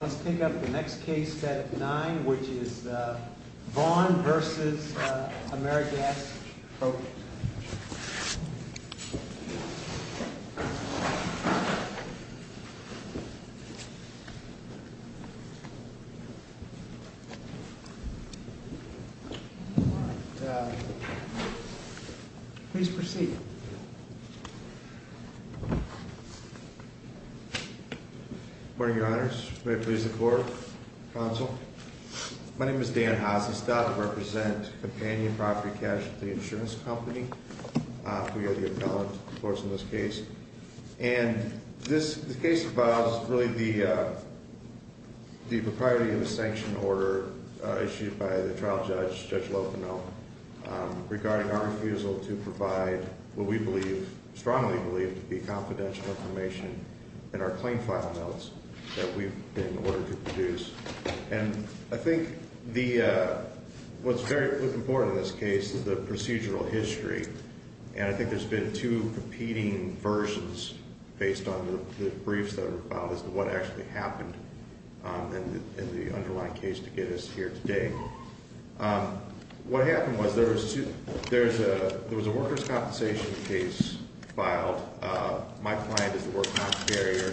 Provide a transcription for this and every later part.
Let's take up the next case, Senate 9, which is Vaughn v. AmeriGas Propane. Please proceed. Good morning, Your Honors. May it please the Court, Counsel. My name is Dan Hassestad. I represent Companion Property Cash at the insurance company. We are the appellant, of course, in this case. And this case involves really the propriety of a sanction order issued by the trial judge, Judge Lopinel, regarding our refusal to provide what we believe, strongly believe, to be confidential information in our claim file notes that we've been ordered to produce. And I think what's important in this case is the procedural history. And I think there's been two competing versions based on the briefs that were filed as to what actually happened in the underlying case to get us here today. What happened was there was a workers' compensation case filed. My client is the workers' compensation carrier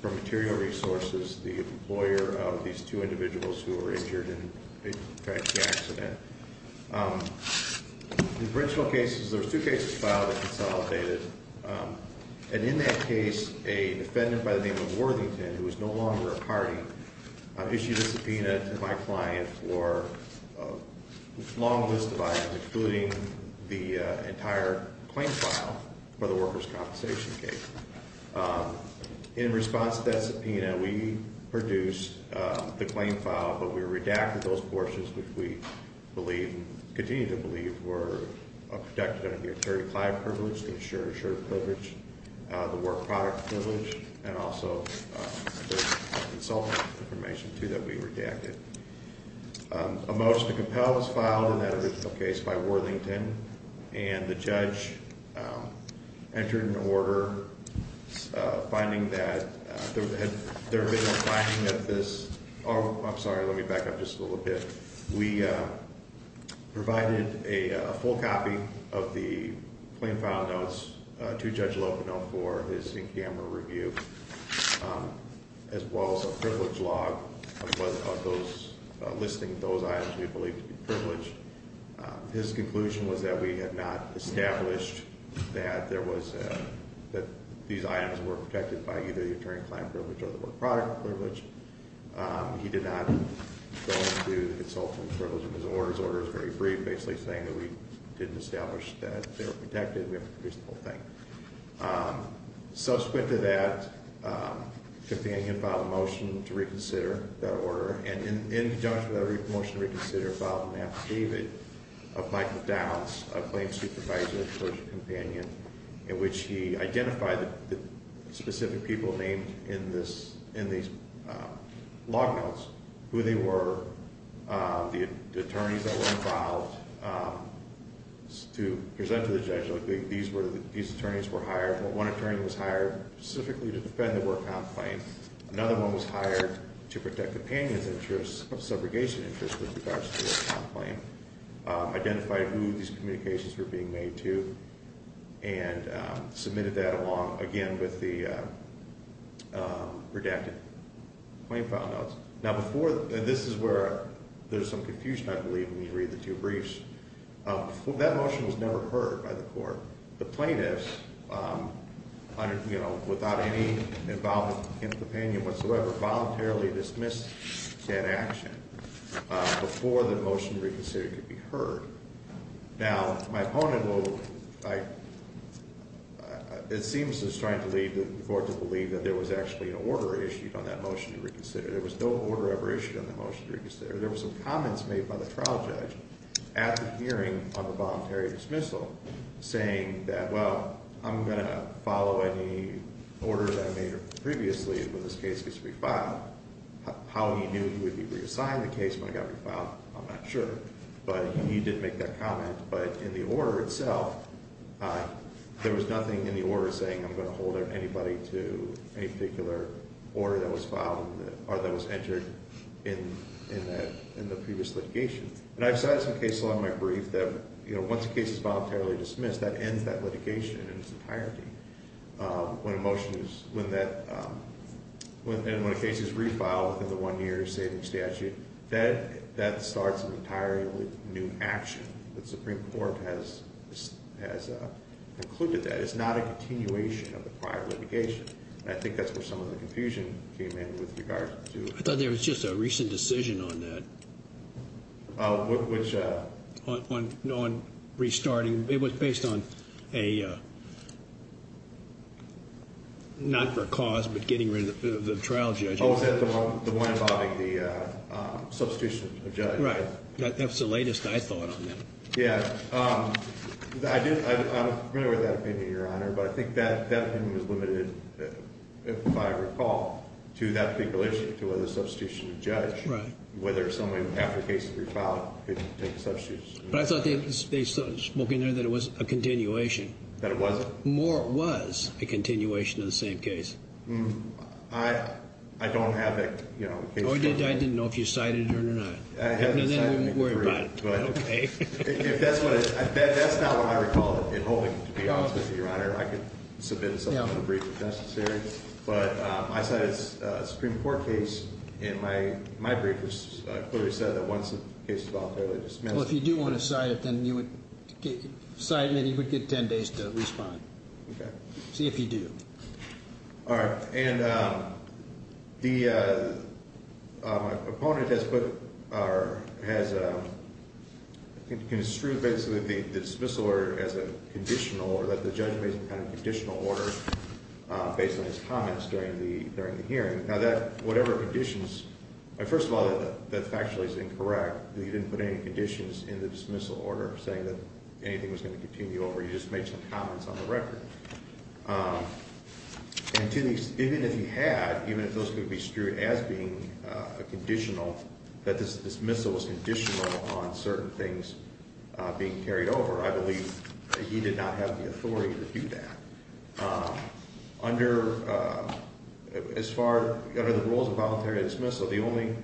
for material resources, the employer of these two individuals who were injured in a tragic accident. In the original cases, there were two cases filed that consolidated. And in that case, a defendant by the name of Worthington, who is no longer a party, issued a subpoena to my client for a long list of items, including the entire claim file for the workers' compensation case. In response to that subpoena, we produced the claim file, but we redacted those portions which we believe, continue to believe, were protected under the attorney-client privilege, the insurer-assured privilege, the work-product privilege, and also the consultant information, too, that we redacted. A motion to compel was filed in that original case by Worthington, and the judge entered an order finding that there had been a flagging of this. Oh, I'm sorry. Let me back up just a little bit. We provided a full copy of the claim file notes to Judge Locono for his in-camera review, as well as a privilege log of those, listing those items we believe to be privileged. His conclusion was that we had not established that there was a, that these items were protected by either the attorney-client privilege or the work-product privilege. He did not go into the consultant privilege. His order is very brief, basically saying that we didn't establish that they were protected. We have to produce the whole thing. Subsequent to that, the companion filed a motion to reconsider that order. And in conjunction with that motion to reconsider, filed an affidavit of Michael Downs, a claim supervisor and associate companion, in which he identified the specific people named in these log notes, who they were, the attorneys that were involved. To present to the judge, these attorneys were hired. One attorney was hired specifically to defend the work-con claim. Another one was hired to protect the companion's interests, subrogation interests, with regards to the work-con claim. Identified who these communications were being made to and submitted that along, again, with the redacted claim file notes. Now, before, and this is where there's some confusion, I believe, when you read the two briefs. That motion was never heard by the court. The plaintiffs, you know, without any involvement in the opinion whatsoever, voluntarily dismissed that action before the motion to reconsider could be heard. Now, my opponent will, it seems as trying to lead the court to believe that there was actually an order issued on that motion to reconsider. There was no order ever issued on the motion to reconsider. There were some comments made by the trial judge at the hearing on the voluntary dismissal saying that, well, I'm going to follow any order that I made previously when this case gets refiled. How he knew he would be reassigned the case when it got refiled, I'm not sure. But he did make that comment. But in the order itself, there was nothing in the order saying I'm going to hold anybody to any particular order that was filed or that was entered in the previous litigation. And I've cited some cases along my brief that, you know, once a case is voluntarily dismissed, that ends that litigation in its entirety. When a motion is, when that, and when a case is refiled within the one-year saving statute, that starts an entirely new action. The Supreme Court has concluded that. It's not a continuation of the prior litigation. And I think that's where some of the confusion came in with regard to. I thought there was just a recent decision on that. Which? On restarting. It was based on a, not for cause, but getting rid of the trial judge. Oh, is that the one involving the substitution of judge? Right. That's the latest I thought on that. I'm familiar with that opinion, Your Honor. But I think that opinion was limited, if I recall, to that particular issue, to whether a substitution of judge. Right. Whether someone, after a case is refiled, could take a substitution. But I thought they spoke in there that it was a continuation. That it wasn't. More was a continuation of the same case. I don't have that, you know. I didn't know if you cited it or not. I haven't cited it. Then we won't worry about it. Okay. If that's what it is, that's not what I recall involving, to be honest with you, Your Honor. I could submit something in a brief if necessary. But I cited a Supreme Court case. And my brief clearly said that once the case is voluntarily dismissed. Well, if you do want to cite it, then you would cite it and you would get ten days to respond. Okay. See if you do. All right. And the opponent has put or has construed basically the dismissal order as a conditional order. That the judge made some kind of conditional order based on his comments during the hearing. Now that, whatever conditions. First of all, that factually is incorrect. You didn't put any conditions in the dismissal order saying that anything was going to continue over. You just made some comments on the record. And even if you had, even if those could be construed as being conditional, that this dismissal was conditional on certain things being carried over. I believe that he did not have the authority to do that. Under, as far, under the rules of voluntary dismissal, the only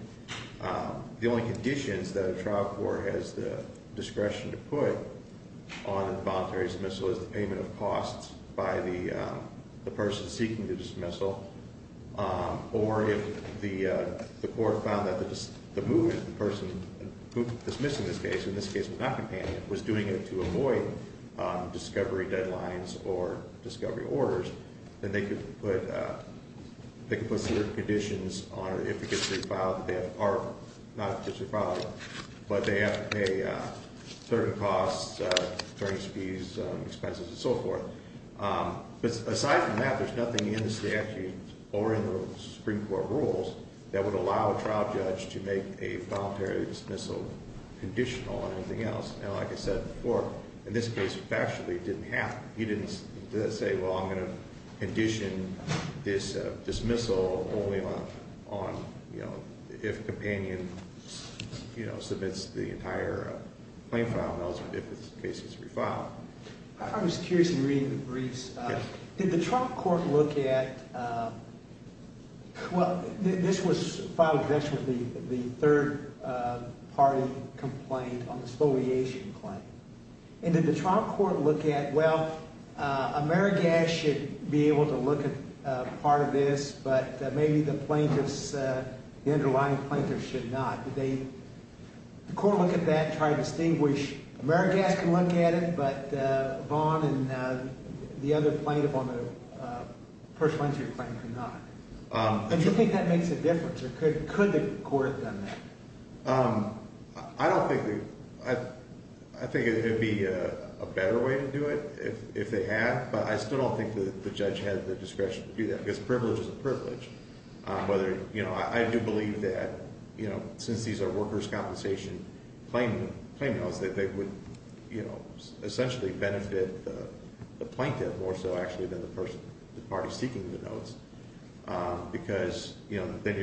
conditions that a trial court has the discretion to put on a voluntary dismissal is the payment of costs by the person seeking the dismissal. Or if the court found that the movement, the person who dismissed in this case, in this case was not companion, was doing it to avoid discovery deadlines or discovery orders. Then they could put, they could put certain conditions on it. If it gets refiled, they have, are not officially filed. But they have to pay certain costs, insurance fees, expenses, and so forth. But aside from that, there's nothing in the statute or in the Supreme Court rules that would allow a trial judge to make a voluntary dismissal conditional on anything else. Now, like I said before, in this case, factually, it didn't happen. He didn't say, well, I'm going to condition this dismissal only on, you know, if companion, you know, submits the entire claim file. I was curious in reading the briefs. Did the trial court look at, well, this was filed against with the third party complaint on the exfoliation claim. And did the trial court look at, well, Amerigas should be able to look at part of this, but maybe the plaintiffs, the underlying plaintiffs should not. Did they, did the court look at that and try to distinguish, Amerigas can look at it, but Vaughn and the other plaintiff on the pursuant to your claim cannot? And do you think that makes a difference, or could the court have done that? I don't think, I think it would be a better way to do it if they had. But I still don't think the judge had the discretion to do that, because privilege is a privilege. Whether, you know, I do believe that, you know, since these are workers' compensation claim notes, that they would, you know, essentially benefit the plaintiff more so actually than the person, the party seeking the notes. Because, you know, then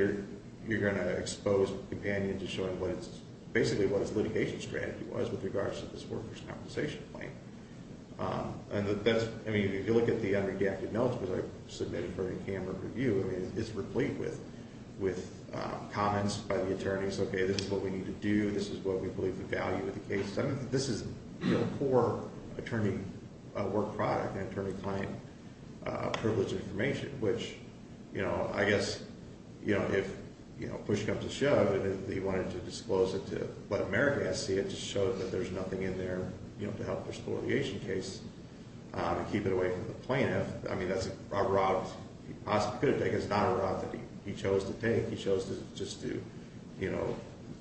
you're going to expose companion to showing what it's, basically what its litigation strategy was with regards to this workers' compensation claim. And that's, I mean, if you look at the unredacted notes that I submitted for the camera review, I mean, it's replete with comments by the attorneys. Okay, this is what we need to do. This is what we believe the value of the case is. I mean, this is, you know, poor attorney work product and attorney claim privilege information, which, you know, I guess, you know, if, you know, push comes to shove, he wanted to disclose it to let America see it, to show that there's nothing in there, you know, to help the spoliation case and keep it away from the plaintiff. I mean, that's a route he possibly could have taken. It's not a route that he chose to take. He chose to just do, you know,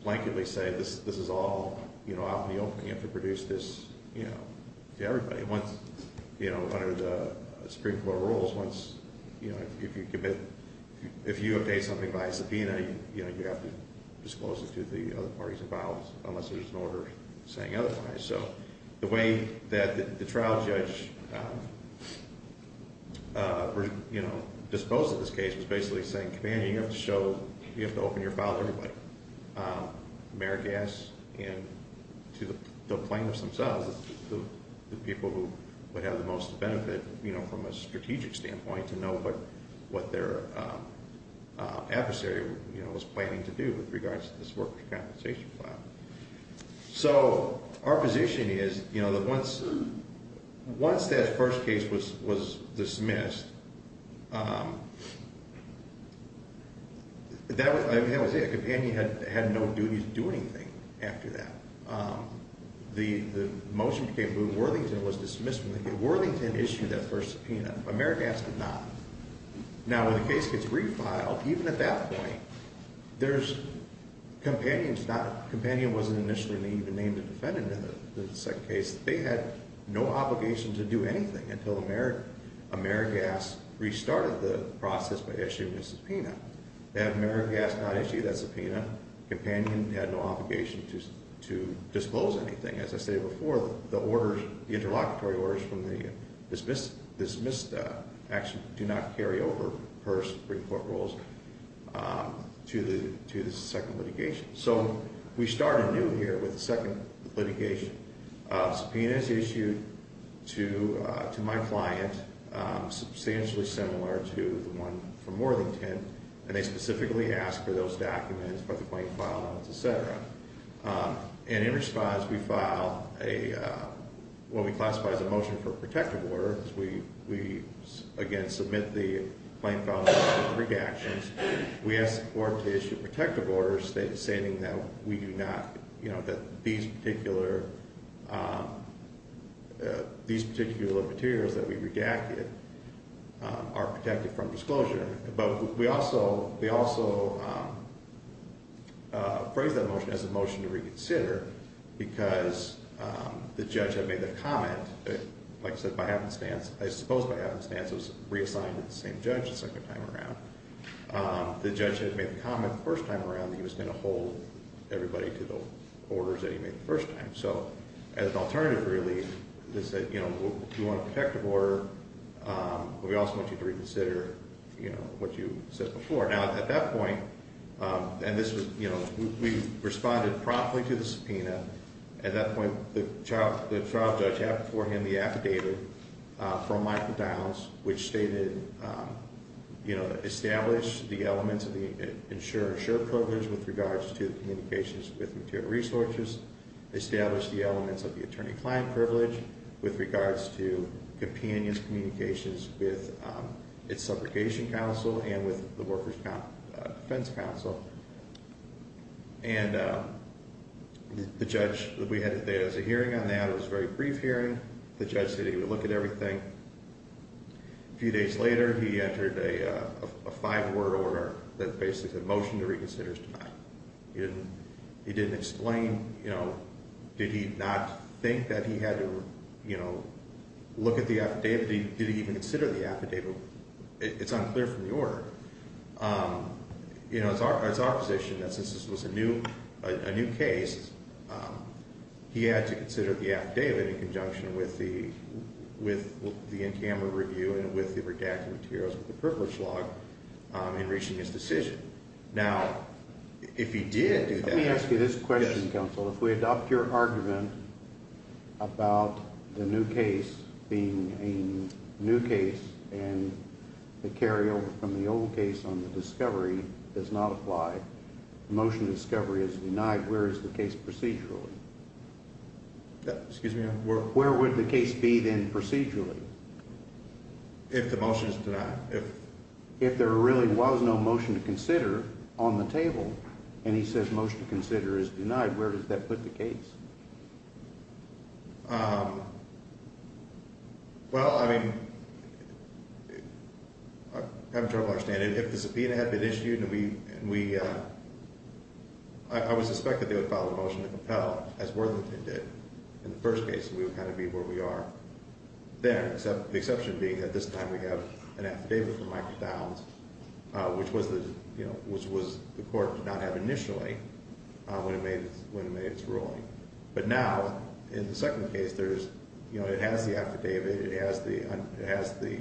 blanketly say this is all, you know, out in the open. You have to produce this, you know, to everybody. I mean, once, you know, under the Supreme Court rules, once, you know, if you commit, if you have paid something by subpoena, you know, you have to disclose it to the other parties involved unless there's an order saying otherwise. So the way that the trial judge, you know, disposed of this case was basically saying, Commander, you have to show, you have to open your file to everybody. Mayor Gass and to the plaintiffs themselves, the people who would have the most benefit, you know, from a strategic standpoint to know what their adversary, you know, was planning to do with regards to this workers' compensation file. So our position is, you know, that once that first case was dismissed, that was it. A companion had no duty to do anything after that. The motion became moved. Worthington was dismissed from the case. Worthington issued that first subpoena. But Mayor Gass did not. Now, when the case gets refiled, even at that point, there's, Companion's not, Companion wasn't initially even named a defendant in the second case. They had no obligation to do anything until the Mayor, Mayor Gass restarted the process by issuing a subpoena. They have Mayor Gass not issue that subpoena. Companion had no obligation to disclose anything. As I stated before, the orders, the interlocutory orders from the dismissed action do not carry over per Supreme Court rules to the second litigation. So we started anew here with the second litigation. Subpoenas issued to my client, substantially similar to the one from Worthington, and they specifically asked for those documents, for the plaintiff's file notes, et cetera. And in response, we filed a, what we classify as a motion for protective order. We, again, submit the plaintiff's file notes for redactions. We ask the court to issue protective orders stating that we do not, you know, that these particular, these particular materials that we redacted are protected from disclosure. But we also, we also phrased that motion as a motion to reconsider because the judge had made the comment, like I said, by happenstance, I suppose by happenstance, it was reassigned to the same judge the second time around. The judge had made the comment the first time around that he was going to hold everybody to the orders that he made the first time. So as an alternative, really, they said, you know, we want a protective order, but we also want you to reconsider, you know, what you said before. Now, at that point, and this was, you know, we responded promptly to the subpoena. At that point, the trial judge had before him the affidavit from Michael Downs, which stated, you know, establish the elements of the insurer-insured privilege with regards to communications with material resources. Establish the elements of the attorney-client privilege with regards to companion's communications with its subrogation counsel and with the workers' defense counsel. And the judge, we had a hearing on that. It was a very brief hearing. The judge said he would look at everything. A few days later, he entered a five-word order that basically said motion to reconsider is denied. He didn't explain, you know, did he not think that he had to, you know, look at the affidavit? Did he even consider the affidavit? It's unclear from the order. You know, it's our position that since this was a new case, he had to consider the affidavit in conjunction with the in-camera review and with the redacted materials of the privilege log in reaching his decision. Now, if he did do that. Let me ask you this question, counsel. Yes. If we adopt your argument about the new case being a new case and the carryover from the old case on the discovery does not apply, the motion to discovery is denied, where is the case procedurally? Excuse me? Where would the case be then procedurally? If the motion is denied. If there really was no motion to consider on the table and he says motion to consider is denied, where does that put the case? Well, I mean, I'm trying to understand. If the subpoena had been issued and we, I would suspect that they would file a motion to compel as Worthington did in the first case and we would kind of be where we are there. The exception being at this time we have an affidavit from Michael Downs, which was the, you know, which was the court did not have initially when it made its ruling. But now, in the second case, there's, you know, it has the affidavit, it has the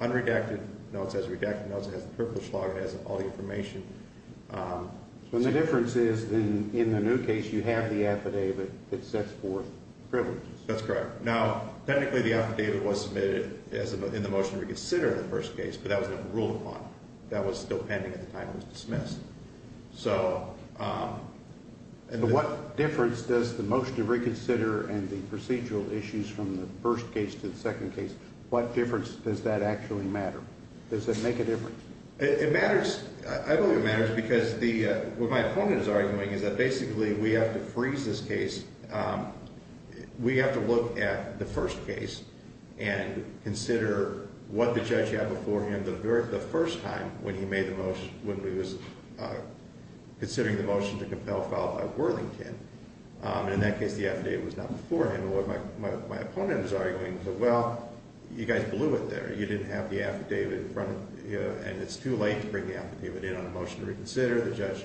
unredacted notes, it has the redacted notes, it has the privilege log, it has all the information. So the difference is in the new case you have the affidavit that sets forth privileges. That's correct. Now, technically the affidavit was submitted in the motion to consider in the first case, but that was not ruled upon. That was still pending at the time it was dismissed. So what difference does the motion to reconsider and the procedural issues from the first case to the second case, what difference does that actually matter? Does it make a difference? It matters. I believe it matters because what my opponent is arguing is that basically we have to freeze this case. We have to look at the first case and consider what the judge had before him the first time when he made the motion, when he was considering the motion to compel a file by Worthington. And in that case, the affidavit was not before him. And what my opponent was arguing was, well, you guys blew it there. You didn't have the affidavit in front of you, and it's too late to bring the affidavit in on the motion to reconsider. The judge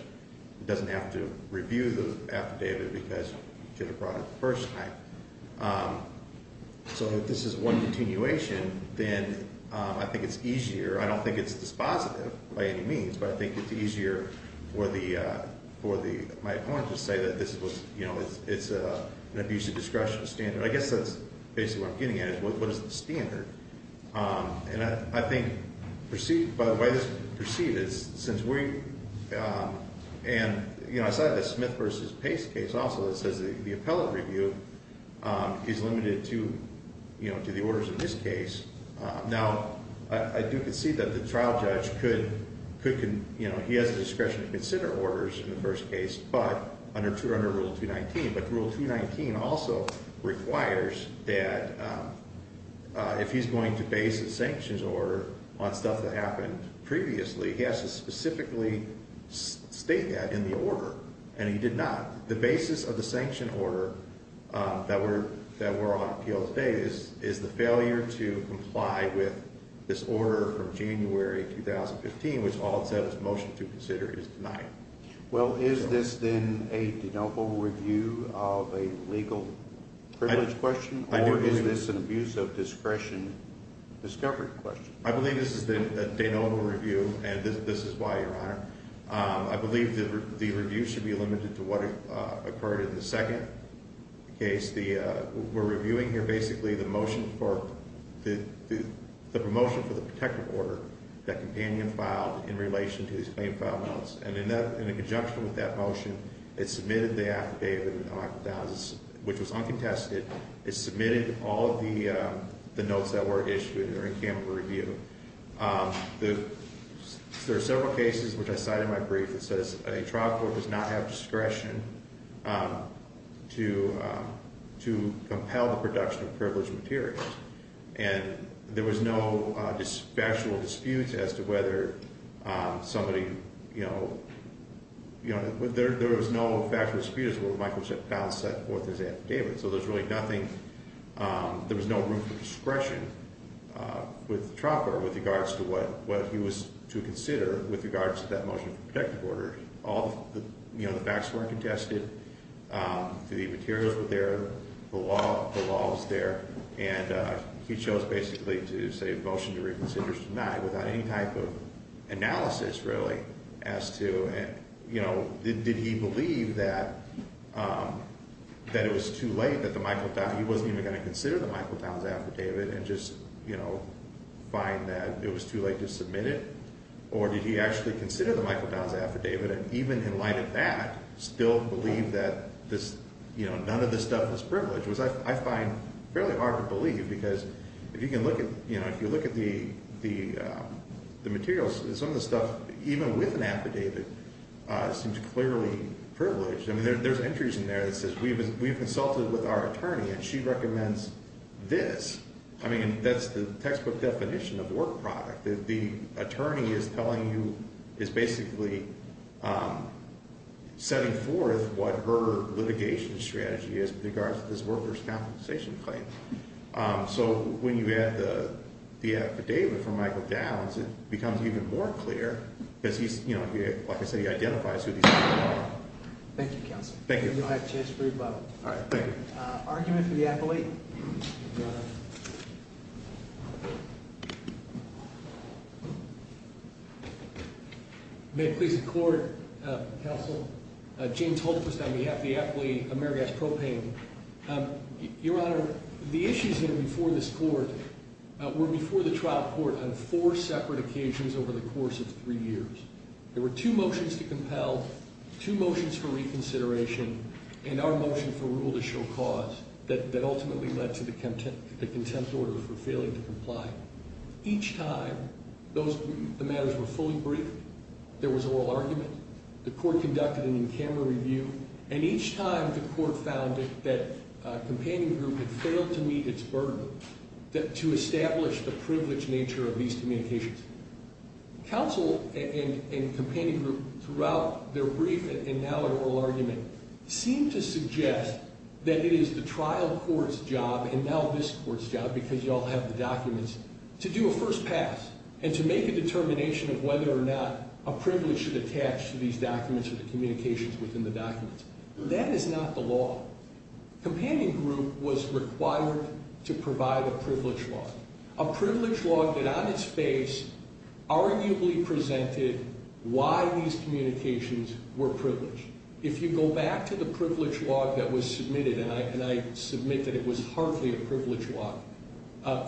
doesn't have to review the affidavit because you could have brought it the first time. So if this is one continuation, then I think it's easier. I don't think it's dispositive by any means, but I think it's easier for my opponent to say that this was, you know, it's an abusive discretion standard. I guess that's basically what I'm getting at is what is the standard? And I think proceed, by the way, proceed is since we, and, you know, aside of the Smith versus Pace case also, it says the appellate review is limited to, you know, to the orders of this case. Now, I do concede that the trial judge could, you know, he has the discretion to consider orders in the first case, but under rule 219. But rule 219 also requires that if he's going to base a sanctions order on stuff that happened previously, he has to specifically state that in the order. And he did not. The basis of the sanction order that we're on appeal today is the failure to comply with this order from January 2015, which all it said was motion to consider is denied. Well, is this then a de novo review of a legal privilege question, or is this an abuse of discretion discovery question? I believe this is a de novo review, and this is why, Your Honor. I believe the review should be limited to what occurred in the second case. In the second case, we're reviewing here basically the motion for, the promotion for the protective order that companion filed in relation to his claim filed notes. And in conjunction with that motion, it submitted the affidavit, which was uncontested. It submitted all of the notes that were issued during camera review. There are several cases, which I cite in my brief, that says a trial court does not have discretion to compel the production of privileged materials. And there was no factual dispute as to whether somebody, you know, there was no factual dispute as to whether Michael Pound set forth his affidavit. So there's really nothing, there was no room for discretion with the trial court with regards to what he was to consider with regards to that motion for protective order. All the facts were contested, the materials were there, the law was there. And he chose basically to say motion to reconsider is denied without any type of analysis really as to, you know, did he believe that it was too late that the Michael Pound, he wasn't even going to consider the Michael Pound's affidavit and just, you know, find that it was too late to submit it? Or did he actually consider the Michael Pound's affidavit and even in light of that, still believe that this, you know, none of this stuff was privileged? Which I find fairly hard to believe because if you can look at, you know, if you look at the materials, some of the stuff even with an affidavit seems clearly privileged. I mean there's entries in there that says we've consulted with our attorney and she recommends this. I mean that's the textbook definition of work product. The attorney is telling you, is basically setting forth what her litigation strategy is with regards to this workers' compensation claim. So when you add the affidavit from Michael Downs, it becomes even more clear because he's, you know, like I said, he identifies who these people are. Thank you, Counselor. Thank you. You'll have a chance to revote. All right, thank you. Argument for the appellate. May it please the Court, Counsel, James Holtquist on behalf of the appellate, Amerigas Propane. Your Honor, the issues here before this Court were before the trial court on four separate occasions over the course of three years. There were two motions to compel, two motions for reconsideration, and our motion for rule to show cause that ultimately led to the contempt order for failing to comply. Each time, the matters were fully briefed, there was oral argument, the Court conducted an in-camera review, and each time the Court found that companion group had failed to meet its burden to establish the privileged nature of these communications. Counsel and companion group throughout their brief and now their oral argument seem to suggest that it is the trial court's job and now this court's job, because you all have the documents, to do a first pass and to make a determination of whether or not a privilege should attach to these documents or the communications within the documents. That is not the law. Companion group was required to provide a privilege law, a privilege law that on its face arguably presented why these communications were privileged. If you go back to the privilege law that was submitted, and I submit that it was hardly a privilege law,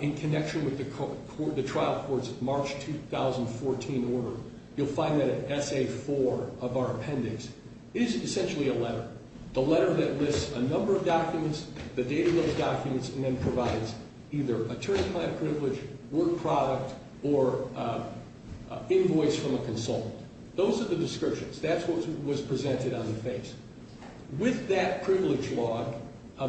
in connection with the trial court's March 2014 order, you'll find that in Essay 4 of our appendix, is essentially a letter. The letter that lists a number of documents, the date of those documents, and then provides either attorney-client privilege, work product, or invoice from a consultant. Those are the descriptions. That's what was presented on the face. With that privilege law,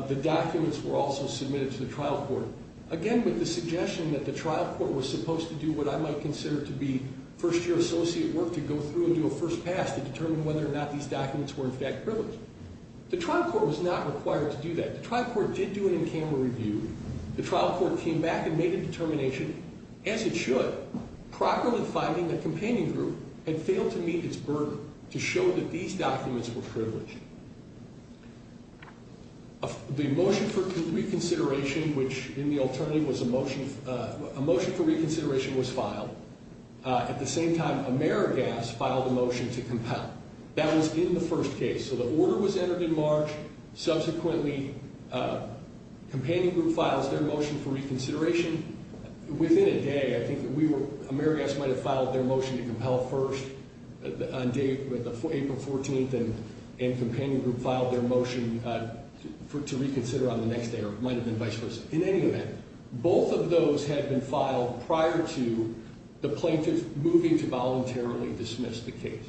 the documents were also submitted to the trial court. Again, with the suggestion that the trial court was supposed to do what I might consider to be first year associate work to go through and do a first pass to determine whether or not these documents were in fact privileged. The trial court was not required to do that. The trial court did do an in-camera review. The trial court came back and made a determination, as it should, finding that Companion Group had failed to meet its burden to show that these documents were privileged. The motion for reconsideration, which in the alternative was a motion for reconsideration, was filed. At the same time, Amerigas filed a motion to compel. That was in the first case. The order was entered in March. Subsequently, Companion Group files their motion for reconsideration. Within a day, Amerigas might have filed their motion to compel first on April 14th, and Companion Group filed their motion to reconsider on the next day or might have been vice versa. In any event, both of those had been filed prior to the plaintiff moving to voluntarily dismiss the case.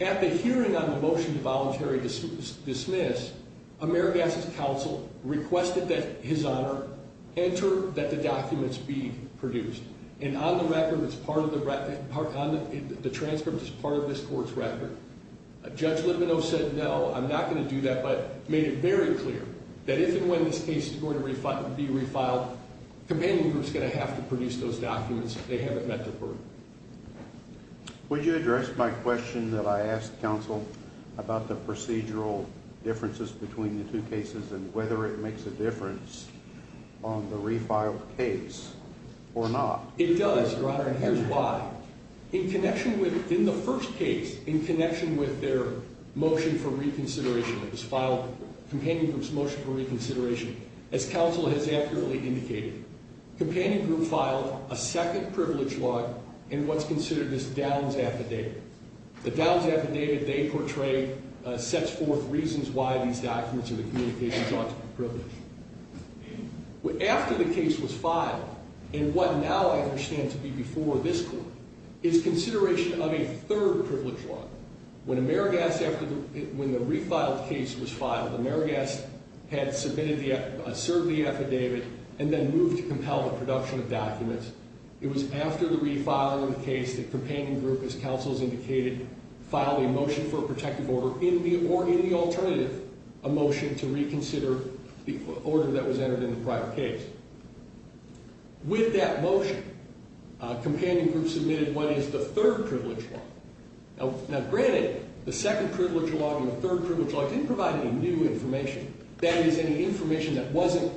At the hearing on the motion to voluntarily dismiss, Amerigas' counsel requested that his honor enter that the documents be produced. On the transcript, it's part of this court's record. Judge Levinow said, no, I'm not going to do that, but made it very clear that if and when this case is going to be refiled, Companion Group is going to have to produce those documents if they haven't met their burden. Would you address my question that I asked counsel about the procedural differences between the two cases and whether it makes a difference on the refiled case or not? It does, Your Honor, and here's why. In connection with, in the first case, in connection with their motion for reconsideration that was filed, Companion Group's motion for reconsideration, as counsel has accurately indicated, Companion Group filed a second privilege law in what's considered this Downs affidavit. The Downs affidavit they portrayed sets forth reasons why these documents or the communications ought to be privileged. After the case was filed, in what now I understand to be before this court, is consideration of a third privilege law. When Amerigas, when the refiled case was filed, Amerigas had submitted the, served the affidavit and then moved to compel the production of documents. It was after the refiling of the case that Companion Group, as counsel has indicated, filed a motion for a protective order in the, or in the alternative, a motion to reconsider the order that was entered in the prior case. With that motion, Companion Group submitted what is the third privilege law. Now, granted, the second privilege law and the third privilege law didn't provide any new information. That is any information that wasn't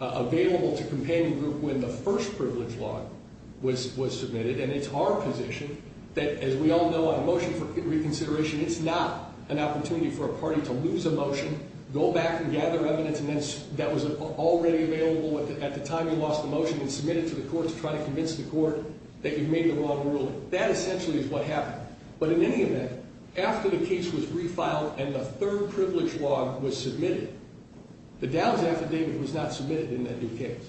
available to Companion Group when the first privilege law was, was submitted. And it's our position that, as we all know, on a motion for reconsideration, it's not an opportunity for a party to lose a motion, go back and gather evidence that was already available at the time you lost the motion and submit it to the court to try to convince the court that you made the wrong ruling. So that essentially is what happened. But in any event, after the case was refiled and the third privilege law was submitted, the Dow's affidavit was not submitted in that new case.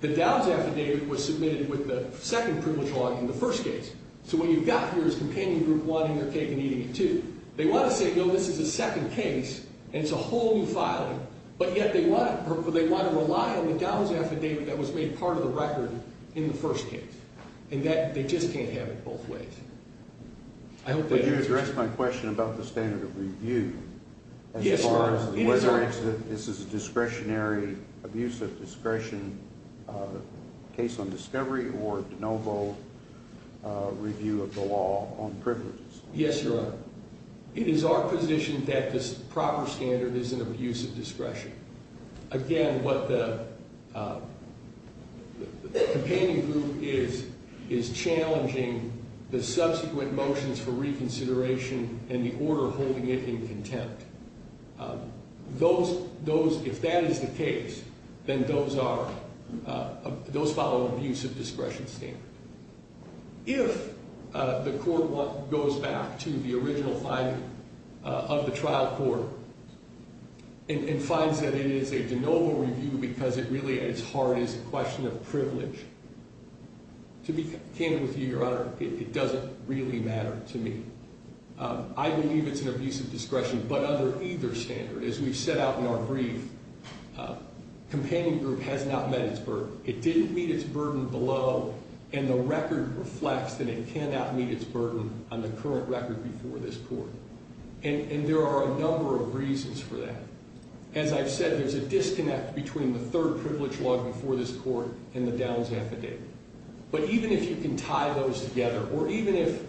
The Dow's affidavit was submitted with the second privilege law in the first case. So what you've got here is Companion Group wanting their cake and eating it too. They want to say, no, this is a second case, and it's a whole new filing. But yet they want to rely on the Dow's affidavit that was made part of the record in the first case. And they just can't have it both ways. I hope that answers your question. Would you address my question about the standard of review? Yes, Your Honor. As far as whether this is a discretionary abuse of discretion case on discovery or de novo review of the law on privileges? Yes, Your Honor. It is our position that this proper standard is an abuse of discretion. Again, what the Companion Group is is challenging the subsequent motions for reconsideration and the order holding it in contempt. If that is the case, then those follow an abuse of discretion standard. If the court goes back to the original filing of the trial court and finds that it is a de novo review because it really at its heart is a question of privilege, to be candid with you, Your Honor, it doesn't really matter to me. I believe it's an abuse of discretion. But under either standard, as we set out in our brief, Companion Group has not met its burden. It didn't meet its burden below, and the record reflects that it cannot meet its burden on the current record before this court. And there are a number of reasons for that. As I've said, there's a disconnect between the third privilege law before this court and the Downs affidavit. But even if you can tie those together, or even if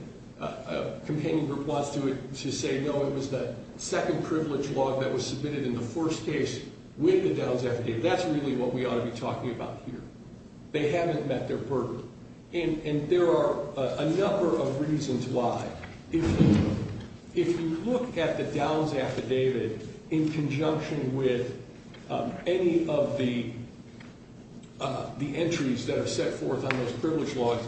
Companion Group wants to say, no, it was the second privilege law that was submitted in the first case with the Downs affidavit. That's really what we ought to be talking about here. They haven't met their burden. And there are a number of reasons why. If you look at the Downs affidavit in conjunction with any of the entries that are set forth on those privilege laws,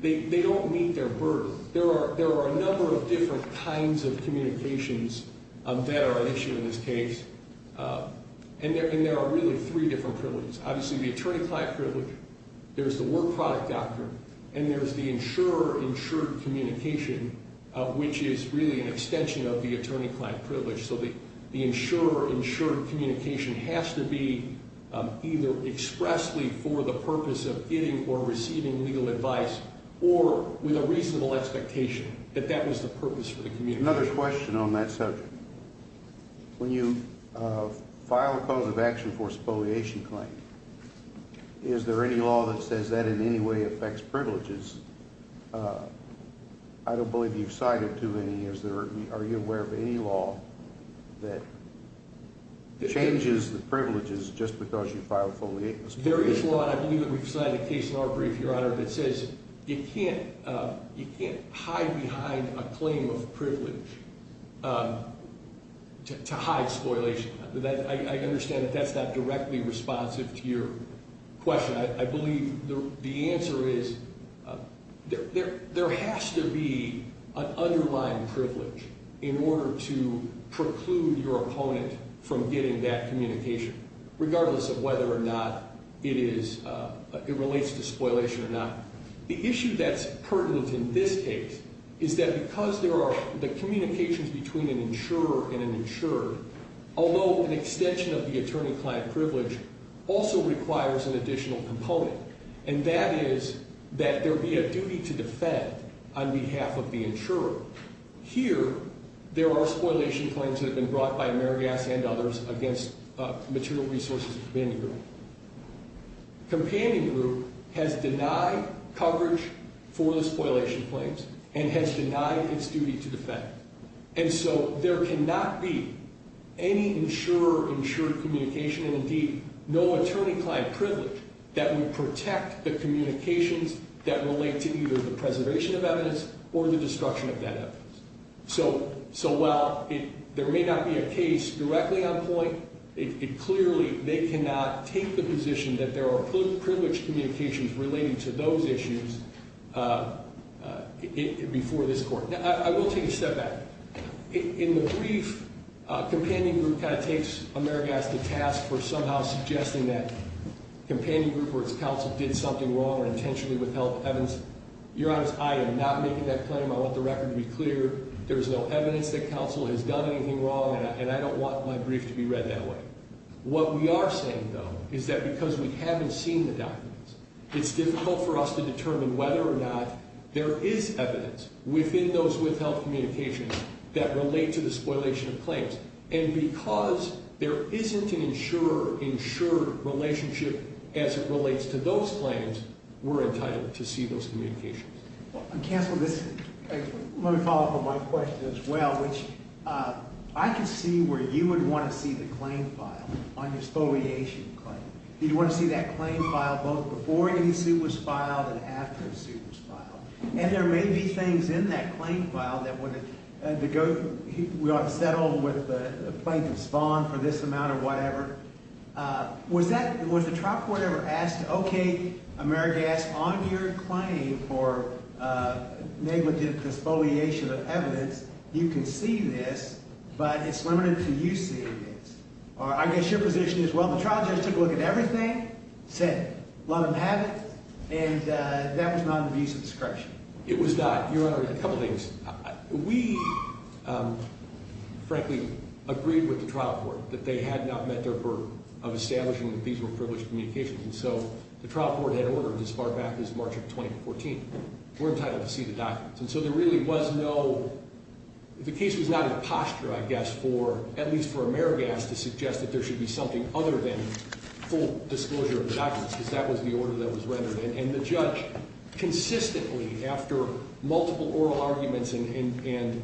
they don't meet their burden. There are a number of different kinds of communications that are at issue in this case. And there are really three different privileges. Obviously, the attorney-client privilege. There's the work product doctrine. And there's the insurer-insured communication, which is really an extension of the attorney-client privilege. So the insurer-insured communication has to be either expressly for the purpose of getting or receiving legal advice, or with a reasonable expectation that that was the purpose for the communication. Another question on that subject. When you file a cause of action for a spoliation claim, is there any law that says that in any way affects privileges? I don't believe you've cited too many. Are you aware of any law that changes the privileges just because you file a spoliation claim? There is one. I believe that we've cited a case in our brief, Your Honor, that says you can't hide behind a claim of privilege to hide spoliation. I understand that that's not directly responsive to your question. I believe the answer is there has to be an underlying privilege in order to preclude your opponent from getting that communication, regardless of whether or not it relates to spoliation or not. The issue that's pertinent in this case is that because there are the communications between an insurer and an insured, although an extension of the attorney-client privilege also requires an additional component, and that is that there be a duty to defend on behalf of the insurer. Here, there are spoliation claims that have been brought by Amerigas and others against Material Resources and Companion Group. Companion Group has denied coverage for the spoliation claims and has denied its duty to defend. And so there cannot be any insurer-insured communication and, indeed, no attorney-client privilege that would protect the communications that relate to either the preservation of evidence or the destruction of that evidence. So while there may not be a case directly on point, clearly they cannot take the position that there are privileged communications related to those issues before this Court. Now, I will take a step back. In the brief, Companion Group kind of takes Amerigas to task for somehow suggesting that Companion Group or its counsel did something wrong or intentionally withheld evidence. Your Honor, I am not making that claim. I want the record to be clear. There is no evidence that counsel has done anything wrong, and I don't want my brief to be read that way. What we are saying, though, is that because we haven't seen the documents, it's difficult for us to determine whether or not there is evidence within those withheld communications that relate to the spoliation of claims. And because there isn't an insurer-insured relationship as it relates to those claims, we're entitled to see those communications. Counsel, let me follow up on my question as well, which I can see where you would want to see the claim file on your spoliation claim. You'd want to see that claim file both before any suit was filed and after the suit was filed. And there may be things in that claim file that would – that go – we ought to settle with the plaintiff's bond for this amount or whatever. Was that – was the trial court ever asked, okay, Amerigas, on your claim for negligent spoliation of evidence, you can see this, but it's limited to you seeing this? Or I guess your position is, well, the trial judge took a look at everything, said, let them have it, and that was not an abuse of discretion. It was not. Your Honor, a couple things. We, frankly, agreed with the trial court that they had not met their burden of establishing that these were privileged communications. And so the trial court had ordered as far back as March of 2014, we're entitled to see the documents. And so there really was no – the case was not in a posture, I guess, for – at least for Amerigas to suggest that there should be something other than full disclosure of the documents, because that was the order that was rendered. And the judge consistently, after multiple oral arguments and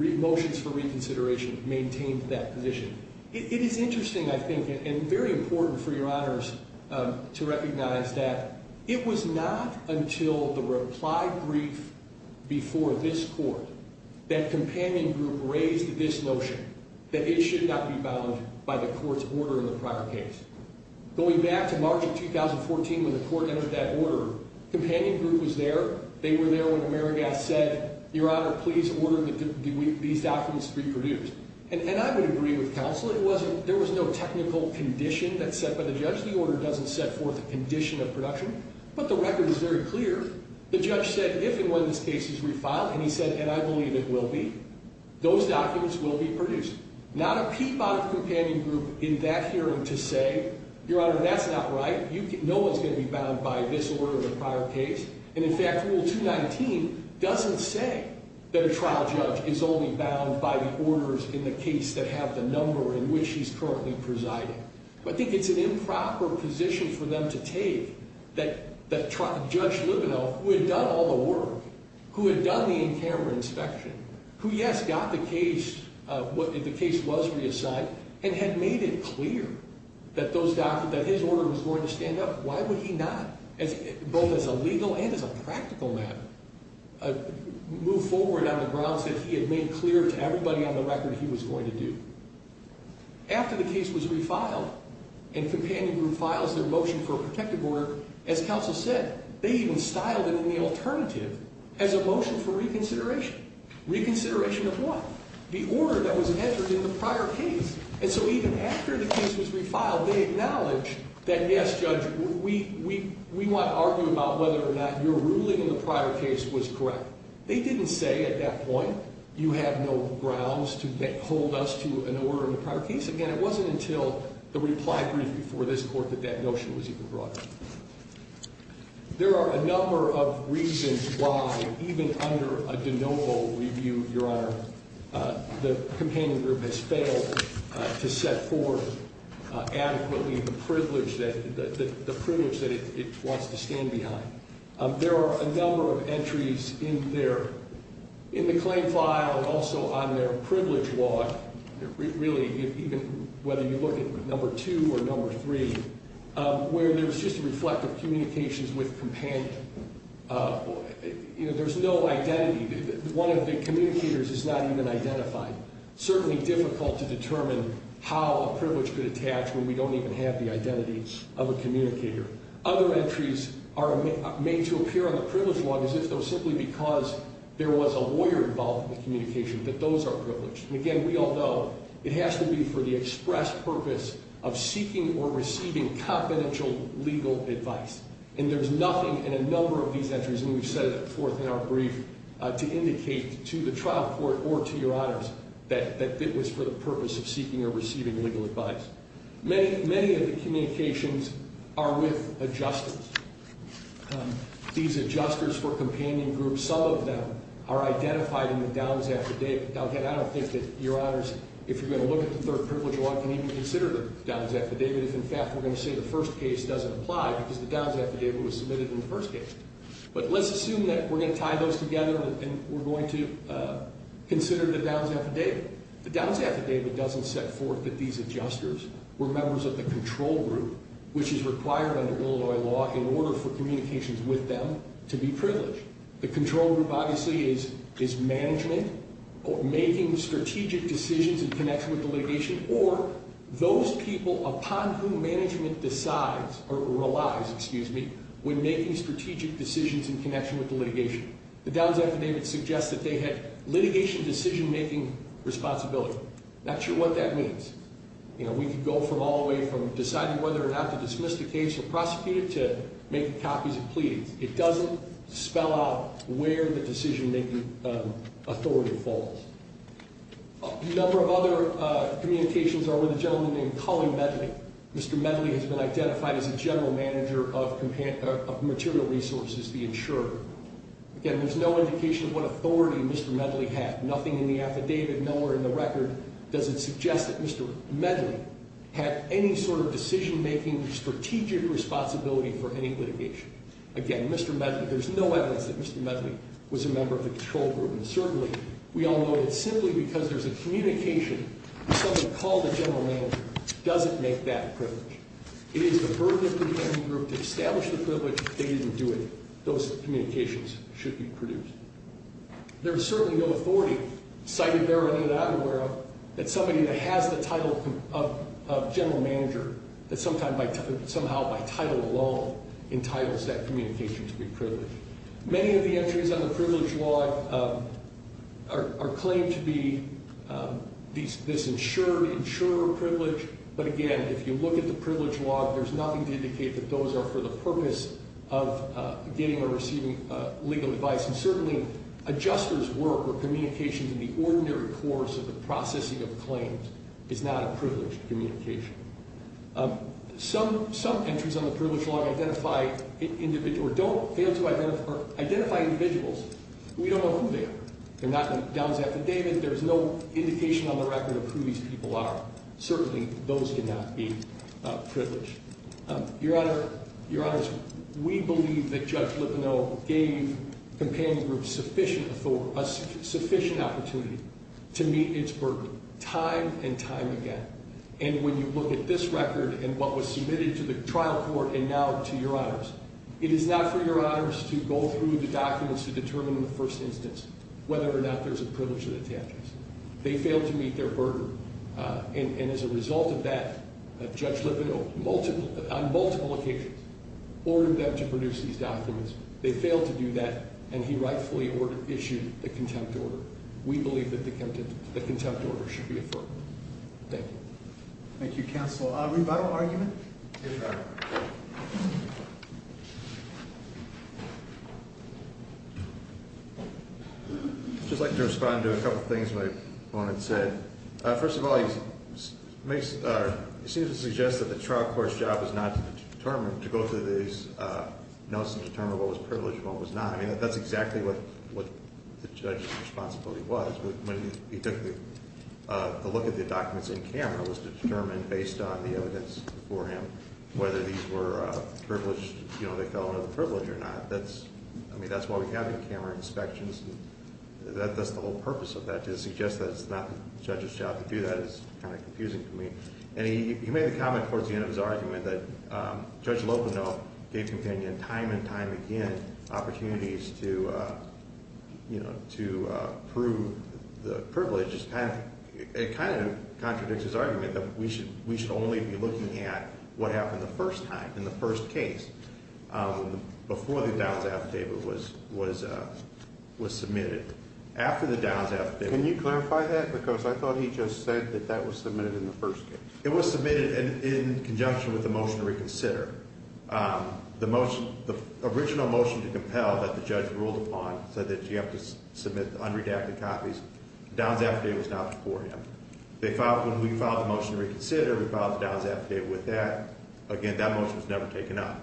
motions for reconsideration, maintained that position. It is interesting, I think, and very important for Your Honors to recognize that it was not until the reply brief before this court that Companion Group raised this notion, that it should not be bound by the court's order in the prior case. Going back to March of 2014 when the court entered that order, Companion Group was there. They were there when Amerigas said, Your Honor, please order these documents to be produced. And I would agree with counsel. It wasn't – there was no technical condition that's set by the judge. The order doesn't set forth a condition of production. But the record is very clear. The judge said, if and when this case is refiled, and he said, and I believe it will be, those documents will be produced. Not a peep out of Companion Group in that hearing to say, Your Honor, that's not right. No one's going to be bound by this order in the prior case. And, in fact, Rule 219 doesn't say that a trial judge is only bound by the orders in the case that have the number in which he's currently presiding. I think it's an improper position for them to take that Judge Libouhel, who had done all the work, who had done the in-camera inspection, who, yes, got the case – the case was reassigned, and had made it clear that those documents – that his order was going to stand up. Why would he not, both as a legal and as a practical matter, move forward on the grounds that he had made clear to everybody on the record he was going to do? After the case was refiled, and Companion Group files their motion for a protective order, as counsel said, they even styled it in the alternative as a motion for reconsideration. Reconsideration of what? The order that was entered in the prior case. And so even after the case was refiled, they acknowledged that, yes, Judge, we want to argue about whether or not your ruling in the prior case was correct. They didn't say at that point, you have no grounds to hold us to an order in the prior case. Again, it wasn't until the reply brief before this Court that that notion was even brought up. There are a number of reasons why, even under a de novo review, Your Honor, the Companion Group has failed to set forth adequately the privilege that – the privilege that it wants to stand behind. There are a number of entries in their – in the claim file and also on their privilege log, really, even whether you look at number two or number three, where there's just a reflect of communications with Companion. You know, there's no identity. One of the communicators is not even identified. Certainly difficult to determine how a privilege could attach when we don't even have the identity of a communicator. Other entries are made to appear on the privilege log as if it was simply because there was a lawyer involved in the communication, that those are privileged. And again, we all know it has to be for the express purpose of seeking or receiving confidential legal advice. And there's nothing in a number of these entries, and we've set it forth in our brief, to indicate to the trial court or to Your Honors that it was for the purpose of seeking or receiving legal advice. Many of the communications are with adjusters. These adjusters for Companion Group, some of them are identified in the Downs affidavit. Now, again, I don't think that Your Honors, if you're going to look at the third privilege log, can even consider the Downs affidavit if, in fact, we're going to say the first case doesn't apply because the Downs affidavit was submitted in the first case. But let's assume that we're going to tie those together and we're going to consider the Downs affidavit. The Downs affidavit doesn't set forth that these adjusters were members of the control group, which is required under Illinois law in order for communications with them to be privileged. The control group, obviously, is management or making strategic decisions in connection with the litigation or those people upon whom management decides or relies, excuse me, when making strategic decisions in connection with the litigation. The Downs affidavit suggests that they had litigation decision-making responsibility. Not sure what that means. You know, we could go from all the way from deciding whether or not to dismiss the case or prosecute it to making copies of pleadings. It doesn't spell out where the decision-making authority falls. A number of other communications are with a gentleman named Colleen Medley. Mr. Medley has been identified as a general manager of material resources, the insurer. Again, there's no indication of what authority Mr. Medley had. Nothing in the affidavit, nowhere in the record does it suggest that Mr. Medley had any sort of decision-making strategic responsibility for any litigation. Again, Mr. Medley, there's no evidence that Mr. Medley was a member of the control group. And certainly, we all know that simply because there's a communication with someone called a general manager doesn't make that a privilege. It is the burden of the control group to establish the privilege. They didn't do it. Those communications should be produced. There is certainly no authority cited therein that I'm aware of that somebody that has the title of general manager that somehow by title alone entitles that communication to be privileged. Many of the entries on the privilege log are claimed to be this insured, insurer privilege. But again, if you look at the privilege log, there's nothing to indicate that those are for the purpose of getting or receiving legal advice. And certainly, adjuster's work or communications in the ordinary course of the processing of claims is not a privileged communication. Some entries on the privilege log identify individuals or don't fail to identify individuals. We don't know who they are. They're not down to affidavit. There's no indication on the record of who these people are. Certainly, those cannot be privileged. Your Honor, we believe that Judge Lipino gave companion groups sufficient opportunity to meet its burden time and time again. And when you look at this record and what was submitted to the trial court and now to Your Honors, it is not for Your Honors to go through the documents to determine in the first instance whether or not there's a privilege to the attachments. They failed to meet their burden. And as a result of that, Judge Lipino, on multiple occasions, ordered them to produce these documents. They failed to do that, and he rightfully issued the contempt order. Thank you. Thank you, Counsel. Revital argument? Yes, Your Honor. I'd just like to respond to a couple things my opponent said. First of all, he seems to suggest that the trial court's job is not to determine, to go through these notes and determine what was privileged and what was not. I mean, that's exactly what the judge's responsibility was. When he took a look at the documents in camera, it was determined based on the evidence before him whether these were privileged, you know, they fell under the privilege or not. I mean, that's why we have these camera inspections. That's the whole purpose of that, to suggest that it's not the judge's job to do that is kind of confusing to me. And he made a comment towards the end of his argument that Judge Lipino gave companion time and time again opportunities to, you know, to prove the privileges. It kind of contradicts his argument that we should only be looking at what happened the first time, in the first case, before the Downs affidavit was submitted. After the Downs affidavit. Can you clarify that? Because I thought he just said that that was submitted in the first case. It was submitted in conjunction with the motion to reconsider. The original motion to compel that the judge ruled upon said that you have to submit the unredacted copies. The Downs affidavit was not before him. When we filed the motion to reconsider, we filed the Downs affidavit with that. Again, that motion was never taken up.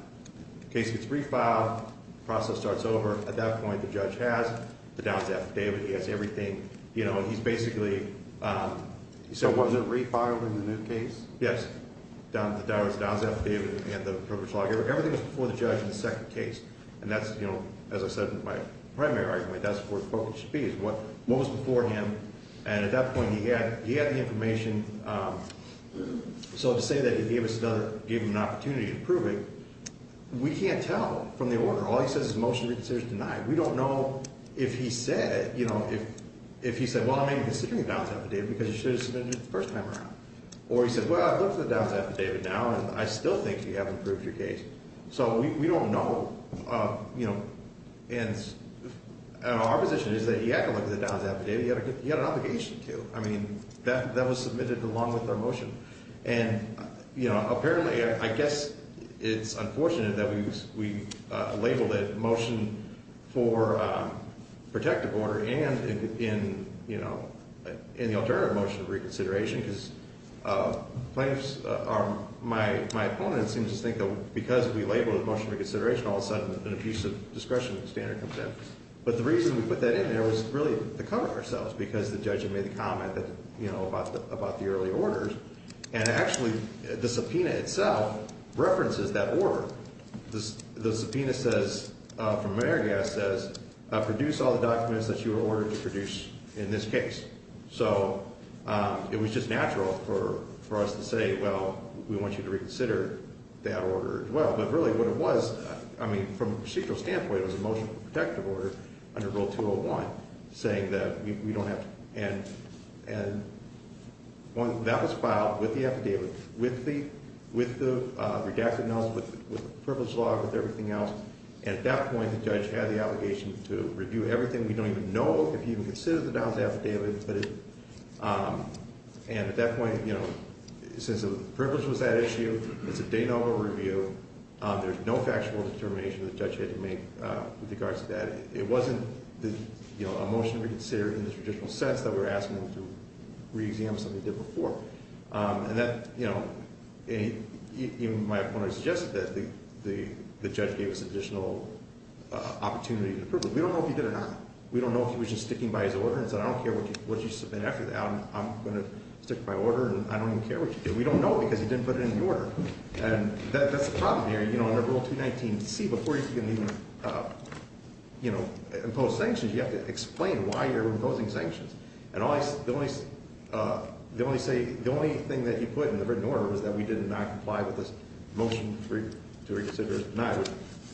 The case gets refiled. The process starts over. At that point, the judge has the Downs affidavit. He has everything. You know, he's basically— So was it refiled in the new case? Yes. The Downs affidavit and the privilege law. Everything was before the judge in the second case. And that's, you know, as I said in my primary argument, that's where the focus should be, is what was before him. And at that point, he had the information. So to say that he gave us another—gave him an opportunity to prove it, we can't tell from the order. All he says is motion to reconsider is denied. We don't know if he said, you know, if he said, well, I may be considering the Downs affidavit because you should have submitted it the first time around. Or he said, well, I've looked at the Downs affidavit now, and I still think you haven't proved your case. So we don't know. You know, and our position is that he had to look at the Downs affidavit. He had an obligation to. I mean, that was submitted along with our motion. And, you know, apparently—I guess it's unfortunate that we labeled it motion for protective order and in, you know, in the alternative motion of reconsideration because plaintiffs are—my opponent seems to think that because we labeled it motion of reconsideration, all of a sudden an abuse of discretion standard comes in. But the reason we put that in there was really to cover ourselves because the judge had made the comment that, you know, about the early orders. And actually the subpoena itself references that order. The subpoena says—from Marigas says produce all the documents that you were ordered to produce in this case. So it was just natural for us to say, well, we want you to reconsider that order as well. But really what it was—I mean, from a procedural standpoint, it was a motion for protective order under Rule 201 saying that we don't have to. And that was filed with the affidavit, with the redacted notes, with the privilege log, with everything else. And at that point, the judge had the obligation to review everything. We don't even know if he even considered the Downs affidavit. And at that point, you know, since the privilege was that issue, it's a de novo review. There's no factual determination that the judge had to make with regards to that. It wasn't, you know, a motion to reconsider in the traditional sense that we were asking him to re-examine something he did before. And that, you know, even my opponent suggested that the judge gave us additional opportunity to approve it. We don't know if he did or not. We don't know if he was just sticking by his order and said, I don't care what you submit after that. I'm going to stick by order, and I don't even care what you do. We don't know because he didn't put it in the order. And that's the problem here. You know, under Rule 219c, before you can even, you know, impose sanctions, you have to explain why you're imposing sanctions. And the only thing that you put in the written order was that we did not comply with this motion to reconsider the denial, which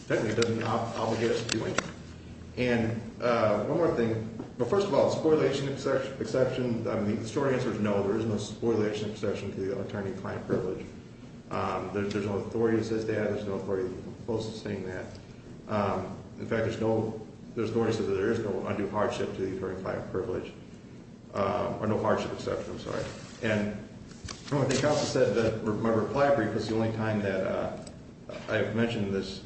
technically doesn't obligate us to do anything. And one more thing. Well, first of all, the spoliation exception, the short answer is no, there is no spoliation exception to the attorney-client privilege. There's no authority that says that. There's no authority that's supposed to sustain that. In fact, there's no authority that says that there is no undue hardship to the attorney-client privilege, or no hardship exception, I'm sorry. And I think counsel said that my reply brief was the only time that I mentioned this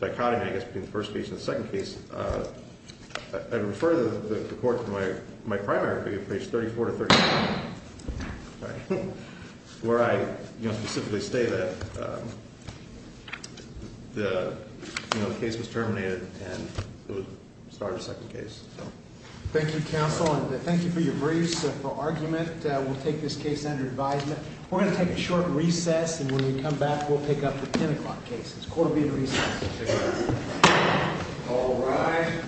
dichotomy, I guess, between the first case and the second case. I refer the court to my primary brief, page 34 to 35, where I specifically state that the case was terminated and it was started a second case. Thank you, counsel, and thank you for your briefs, for argument. We'll take this case under advisement. We're going to take a short recess, and when we come back, we'll pick up the 10 o'clock case. This court will be in recess. All rise.